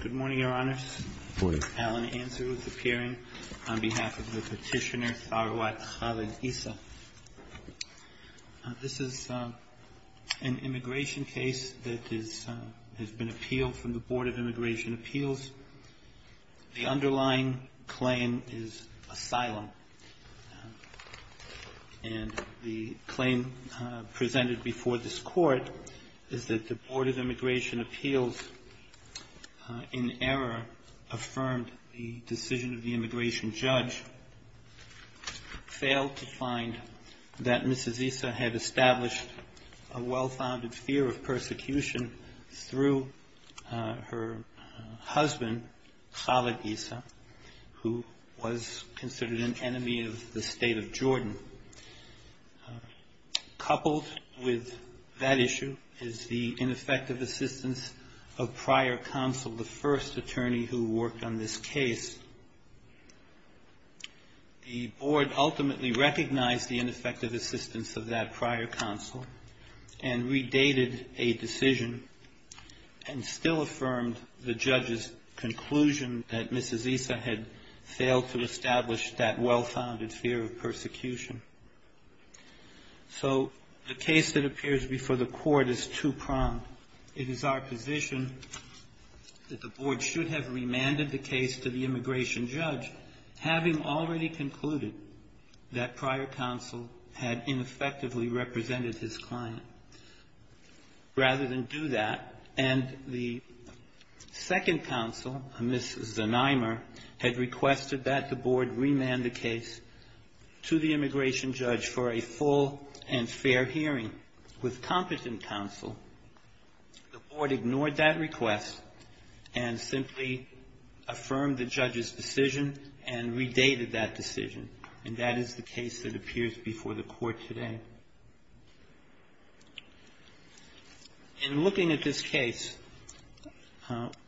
Good morning, Your Honors. Alan Anser is appearing on behalf of the Petitioner Tharwat Khalil-Issa. This is an immigration case that has been appealed from the Board of Immigration Appeals. The underlying claim is asylum, and the claim presented before this Court is that the Board of Immigration Appeals, in error, affirmed the decision of the immigration judge, failed to find that Mrs. Issa had established a well-founded fear of persecution through her husband, Khalil-Issa, who was considered an enemy of the state of Jordan. Coupled with that issue is the ineffective assistance of prior counsel, the first attorney who worked on this case. The Board ultimately recognized the ineffective assistance of that prior counsel and redated a decision and still affirmed the judge's conclusion that Mrs. Issa had failed to establish that well-founded fear of persecution. So the case that appears before the Court is two-pronged. It is our position that the Board should have remanded the case to the immigration judge, having already concluded that prior counsel had ineffectively represented his client. Rather than do that, and the second counsel, Mrs. Zonimer, had requested that the Board remand the case to the immigration judge for a full and The Board ignored that request and simply affirmed the judge's decision and redated that decision. And that is the case that appears before the Court today. In looking at this case,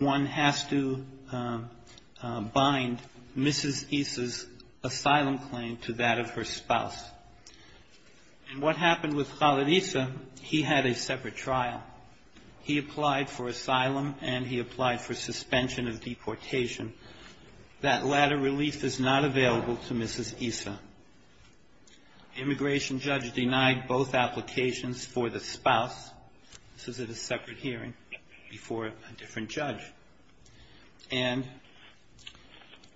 one has to bind Mrs. Issa's asylum claim to that of her spouse. And what happened with Khaled Issa, he had a separate trial. He applied for asylum and he applied for suspension of deportation. That latter release is not available to Mrs. Issa. Immigration judge denied both applications for the spouse. This is at a separate hearing before a different judge. And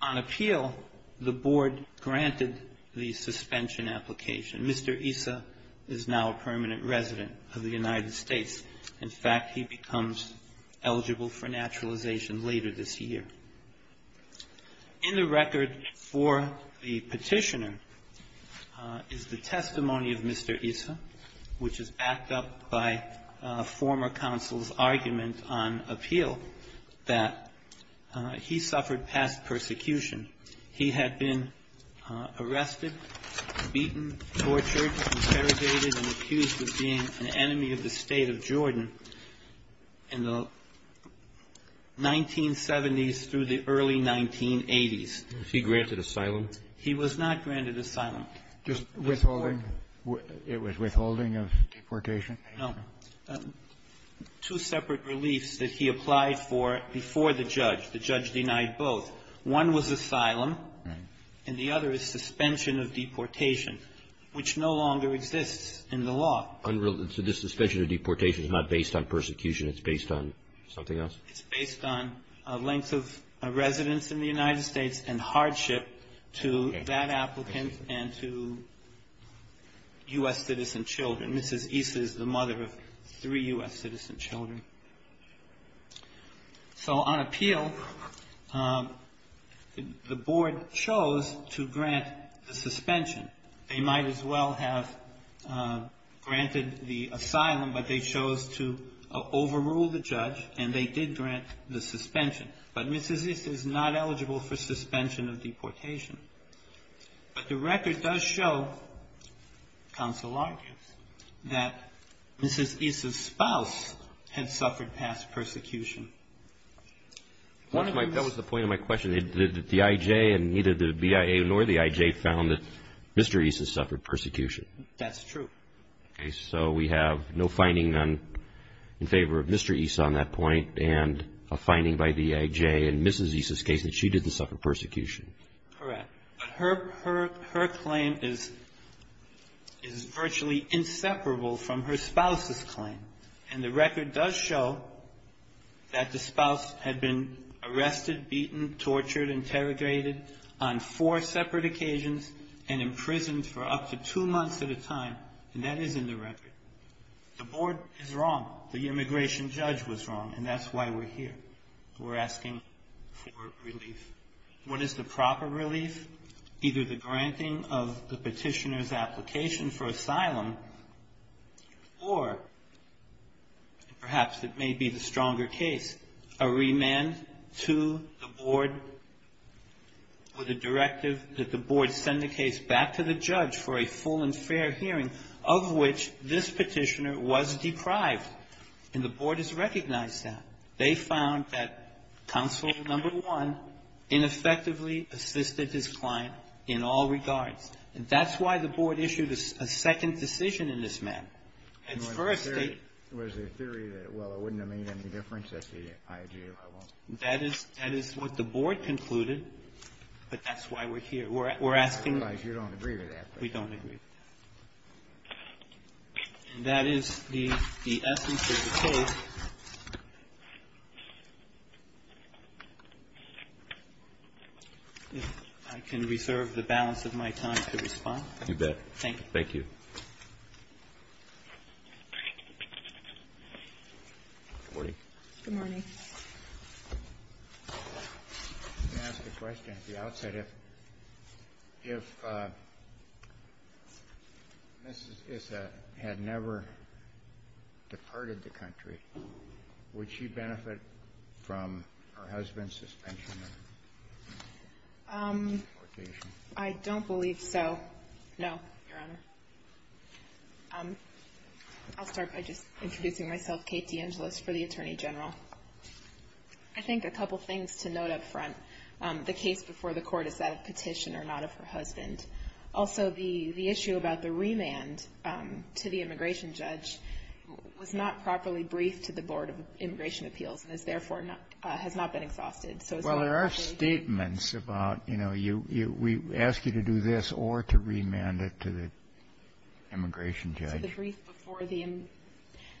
on appeal, the Board granted the suspension application. Mr. Issa is now a permanent resident of the United States. In fact, he becomes eligible for naturalization later this year. In the record for the petitioner is the testimony of Mr. Issa, which is backed up by former counsel's argument on appeal. That he suffered past persecution. He had been arrested, beaten, tortured, interrogated, and accused of being an enemy of the state of Jordan in the 1970s through the early 1980s. He granted asylum? He was not granted asylum. Just withholding? It was withholding of deportation? No. Two separate reliefs that he applied for before the judge. The judge denied both. One was asylum, and the other is suspension of deportation, which no longer exists in the law. So this suspension of deportation is not based on persecution. It's based on something else? It's based on length of residence in the United States and hardship to that applicant and to U.S. citizen children. Mrs. Issa is the mother of three U.S. citizen children. So on appeal, the board chose to grant the suspension. They might as well have granted the asylum, but they chose to overrule the judge, and they did grant the suspension. But Mrs. Issa is not eligible for suspension of deportation. But the record does show, counsel argues, that Mrs. Issa's spouse had suffered past persecution. That was the point of my question. The IJ and neither the BIA nor the IJ found that Mr. Issa suffered persecution. That's true. So we have no finding in favor of Mr. Issa on that point, and a finding by the IJ in Mrs. Issa's case that she didn't suffer persecution. Correct. But her claim is virtually inseparable from her spouse's claim. And the record does show that the spouse had been arrested, beaten, tortured, interrogated on four separate occasions and imprisoned for up to two months at a time, and that is in the record. The board is wrong. The immigration judge was wrong, and that's why we're here. We're asking for relief. What is the proper relief? Either the granting of the petitioner's application for asylum, or perhaps it may be the stronger case, a remand to the board with a directive that the board send the case back to the judge for a full and fair hearing, of which this petitioner was deprived, and the board has recognized that. They found that counsel number one ineffectively assisted his client in all regards, and that's why the board issued a second decision in this matter. Its first statement. It was a theory that, well, it wouldn't have made any difference at the IJ level. That is what the board concluded, but that's why we're here. We're asking. I realize you don't agree with that. We don't agree. And that is the essence of the case. If I can reserve the balance of my time to respond. You bet. Thank you. Thank you. Good morning. I'm going to ask a question at the outset. If Mrs. Issa had never departed the country, would she benefit from her husband's suspension and deportation? I don't believe so. No, Your Honor. I'll start by just introducing myself. Kate DeAngelis for the Attorney General. I think a couple things to note up front. The case before the Court is that of Petitioner, not of her husband. Also, the issue about the remand to the immigration judge was not properly briefed to the Board of Immigration Appeals, and has therefore not been exhausted. Well, there are statements about, you know, we ask you to do this or to remand it to the immigration judge. So the brief before the immigration judge.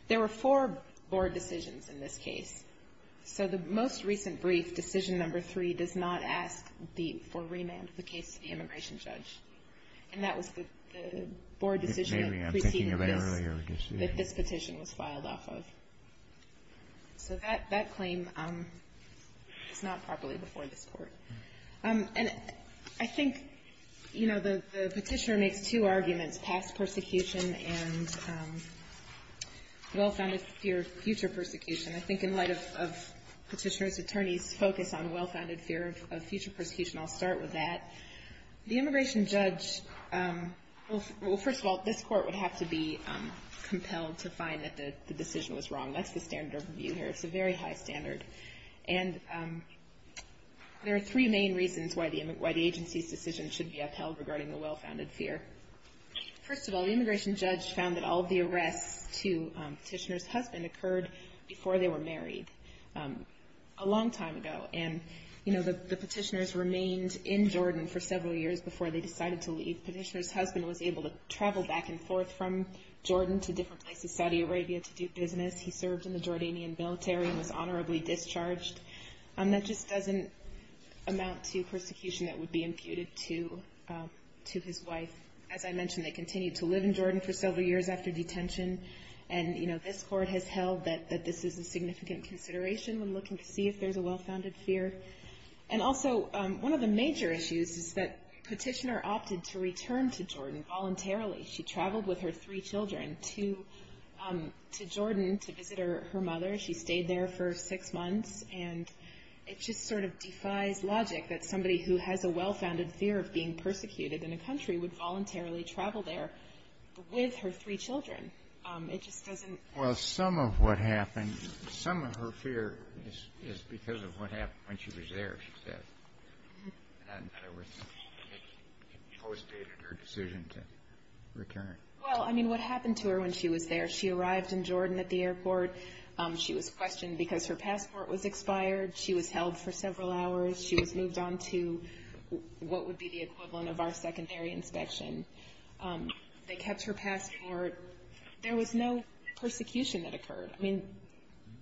There were four board decisions in this case. So the most recent brief, Decision Number 3, does not ask for remand of the case to the immigration judge. And that was the board decision that preceded this petition was filed off of. So that claim is not properly before this court. And I think, you know, the petitioner makes two arguments, past persecution and well-founded fear of future persecution. I think in light of Petitioner's attorney's focus on well-founded fear of future persecution, I'll start with that. The immigration judge, well, first of all, this court would have to be compelled to find that the decision was wrong. That's the standard of review here. It's a very high standard. And there are three main reasons why the agency's decision should be upheld regarding the well-founded fear. First of all, the immigration judge found that all of the arrests to Petitioner's husband occurred before they were married a long time ago. And, you know, the petitioners remained in Jordan for several years before they decided to leave. Petitioner's husband was able to travel back and forth from Jordan to different places, Saudi Arabia, to do business. He served in the Jordanian military and was honorably discharged. That just doesn't amount to persecution that would be imputed to his wife. As I mentioned, they continued to live in Jordan for several years after detention. And, you know, this court has held that this is a significant consideration. We're looking to see if there's a well-founded fear. And also, one of the major issues is that Petitioner opted to return to Jordan voluntarily. She traveled with her three children to Jordan to visit her mother. She stayed there for six months. And it just sort of defies logic that somebody who has a well-founded fear of being persecuted in a country would voluntarily travel there with her three children. It just doesn't. Well, some of what happened, some of her fear is because of what happened when she was there, she said. And it postdated her decision to return. Well, I mean, what happened to her when she was there? She arrived in Jordan at the airport. She was questioned because her passport was expired. She was held for several hours. She was moved on to what would be the equivalent of our secondary inspection. They kept her passport. There was no persecution that occurred. I mean,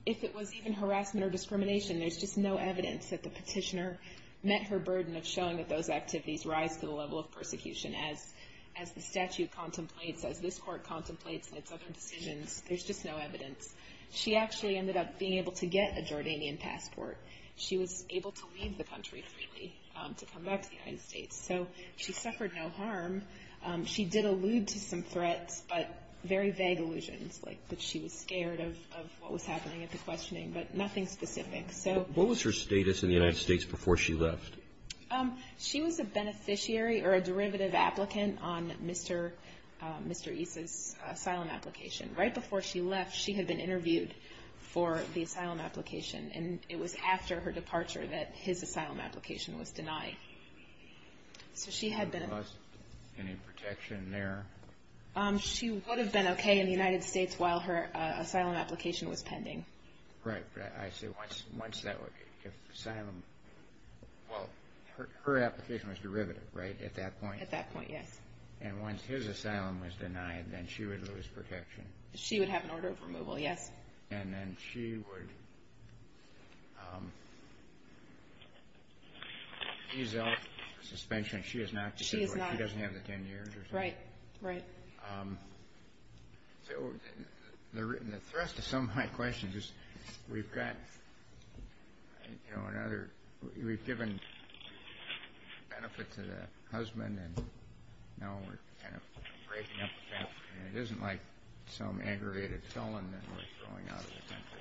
if it was even harassment or discrimination, there's just no evidence that the Petitioner met her burden of showing that those activities rise to the level of persecution. As the statute contemplates, as this court contemplates in its other decisions, there's just no evidence. She actually ended up being able to get a Jordanian passport. She was able to leave the country freely to come back to the United States. So she suffered no harm. She did allude to some threats, but very vague allusions, like that she was scared of what was happening at the questioning, but nothing specific. So what was her status in the United States before she left? She was a beneficiary or a derivative applicant on Mr. East's asylum application. Right before she left, she had been interviewed for the asylum application. And it was after her departure that his asylum application was denied. So she had been... Any protection there? She would have been okay in the United States while her asylum application was pending. Right. I see. Well, her application was derivative, right? At that point? At that point, yes. And once his asylum was denied, then she would lose protection? She would have an order of removal, yes. And then she would ease out suspension. She is not... She is not... She doesn't have the 10 years or something? Right. Right. So the thrust of some of my questions is we've got another... We've given benefit to the husband, and now we're kind of breaking up the family. It isn't like some aggravated felon that we're throwing out of the country.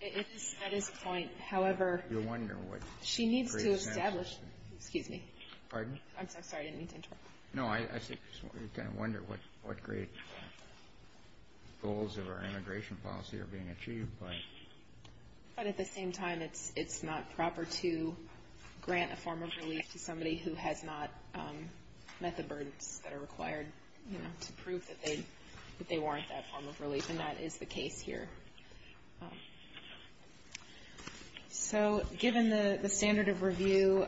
It is at this point. However... You wonder what... She needs to establish... Excuse me. Pardon? I'm sorry. I didn't mean to interrupt. No, I wonder what great goals of our immigration policy are being achieved, but... But at the same time, it's not proper to grant a form of relief to somebody who has not met the burdens that are required to prove that they warrant that form of relief, and that is the case here. So, given the standard of review,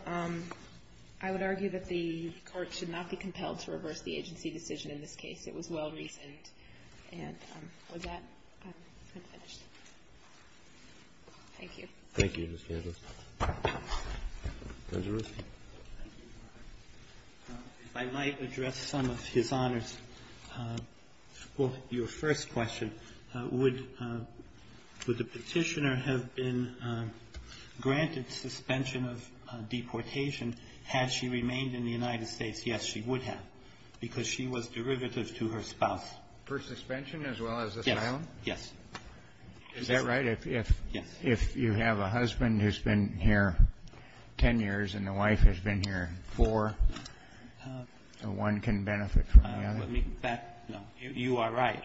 I would argue that the court should not be compelled to reverse the agency decision in this case. It was well-reasoned. And with that, I'm finished. Thank you. Thank you, Ms. Candless. Judge Arushi? If I might address some of his honors. Well, your first question, would the petitioner have been granted suspension of deportation had she remained in the United States? Yes, she would have, because she was derivative to her spouse. For suspension as well as asylum? Yes. Is that right? Yes. If you have a husband who's been here ten years and the wife has been here four, one can benefit from the other? You are right.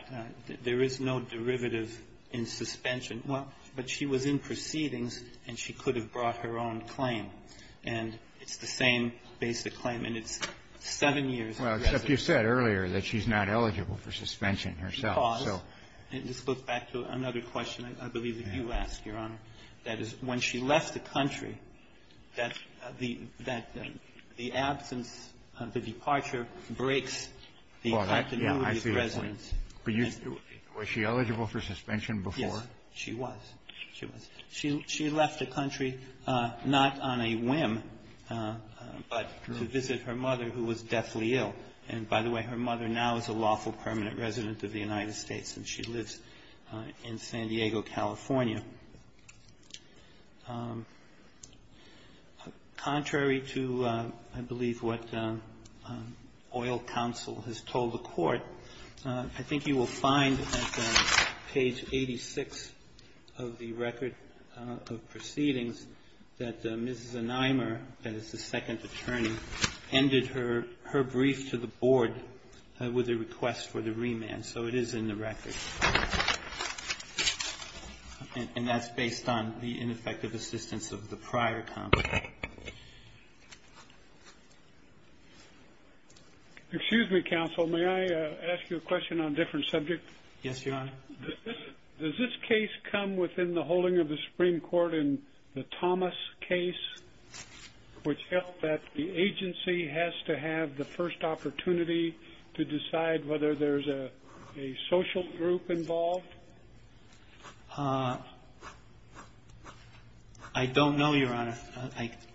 There is no derivative in suspension. But she was in proceedings, and she could have brought her own claim. And it's the same basic claim, and it's seven years of residence. Well, except you said earlier that she's not eligible for suspension herself. And this goes back to another question I believe that you asked, Your Honor. That is, when she left the country, that the absence of the departure breaks the continuity of residence. Was she eligible for suspension before? Yes, she was. She was. She left the country not on a whim, but to visit her mother who was deathly ill. And by the way, her mother now is a lawful permanent resident of the United States, and she lives in San Diego, California. Contrary to, I believe, what oil counsel has told the court, I think you will find at page 86 of the record of proceedings that Mrs. Anheimer, that is the second attorney, ended her brief to the board with a request for the remand. So it is in the record. And that's based on the ineffective assistance of the prior counsel. Excuse me, counsel. May I ask you a question on a different subject? Yes, Your Honor. Does this case come within the holding of the Supreme Court in the Thomas case, which held that the agency has to have the first opportunity to decide whether there is a social group involved? I don't know, Your Honor.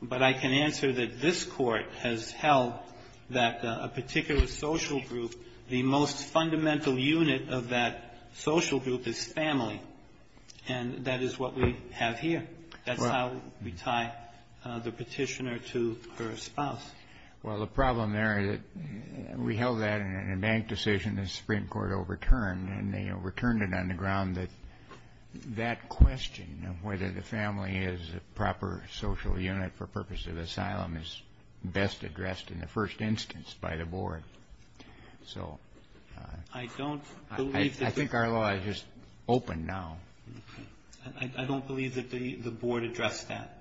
But I can answer that this court has held that a particular social group, the most fundamental social unit of that social group is family. And that is what we have here. That's how we tie the petitioner to her spouse. Well, the problem there is that we held that in a bank decision that the Supreme Court overturned, and they overturned it on the ground that that question of whether the family is a proper social unit for purpose of asylum is best addressed in the first instance by the board. So I think our law is just open now. I don't believe that the board addressed that.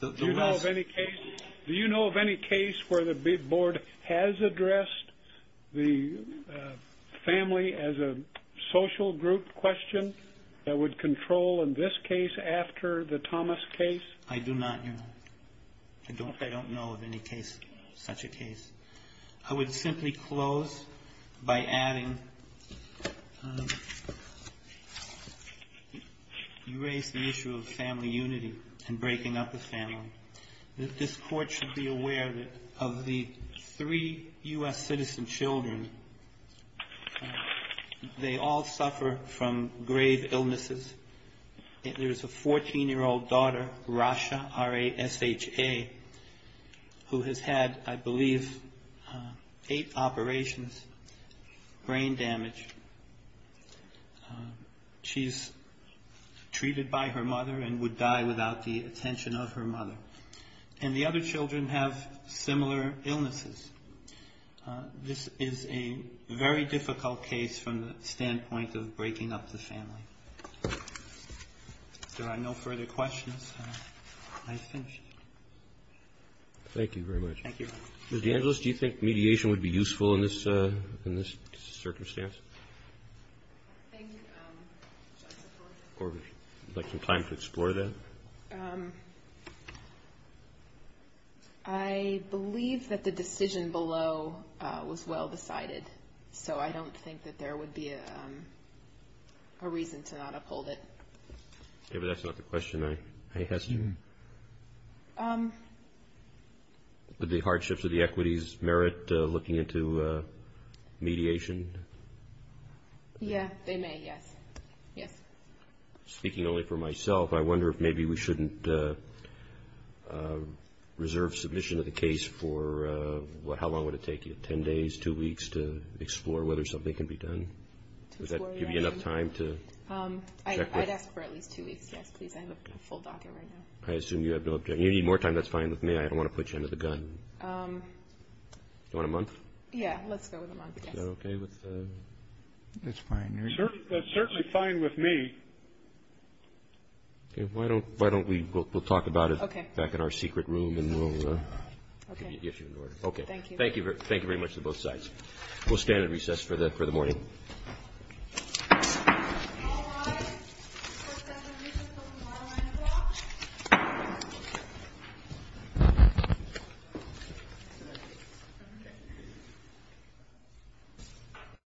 Do you know of any case where the board has addressed the family as a social group question that would control in this case after the Thomas case? I do not, Your Honor. I don't know of any case, such a case. I would simply close by adding, you raised the issue of family unity and breaking up the family. This court should be aware that of the three U.S. citizen children, they all suffer from grave illnesses. There's a 14-year-old daughter, Rasha, R-A-S-H-A, who has had, I believe, eight operations, brain damage. She's treated by her mother and would die without the attention of her mother. And the other children have similar illnesses. This is a very difficult case from the standpoint of breaking up the family. If there are no further questions, I finish. Thank you very much. Thank you. Ms. DeAngelis, do you think mediation would be useful in this circumstance? Thank you, Justice Gorsuch. Would you like some time to explore that? I believe that the decision below was well decided. So I don't think that there would be a reason to not uphold it. Okay, but that's not the question I asked you. Would the hardships of the equities merit looking into mediation? Yeah, they may, yes. Yes. Speaking only for myself, I wonder if maybe we shouldn't reserve submission of the case for how long would it take you? Ten days, two weeks to explore whether something can be done? Would that give you enough time to? I'd ask for at least two weeks, yes, please. I have a full docket right now. I assume you have no objection. You need more time, that's fine with me. I don't want to put you under the gun. Do you want a month? Yeah, let's go with a month, yes. Is that okay with? That's fine. That's certainly fine with me. Okay, why don't we talk about it back in our secret room and we'll give you an order. Okay, thank you. Thank you very much to both sides. We'll stand at recess for the morning.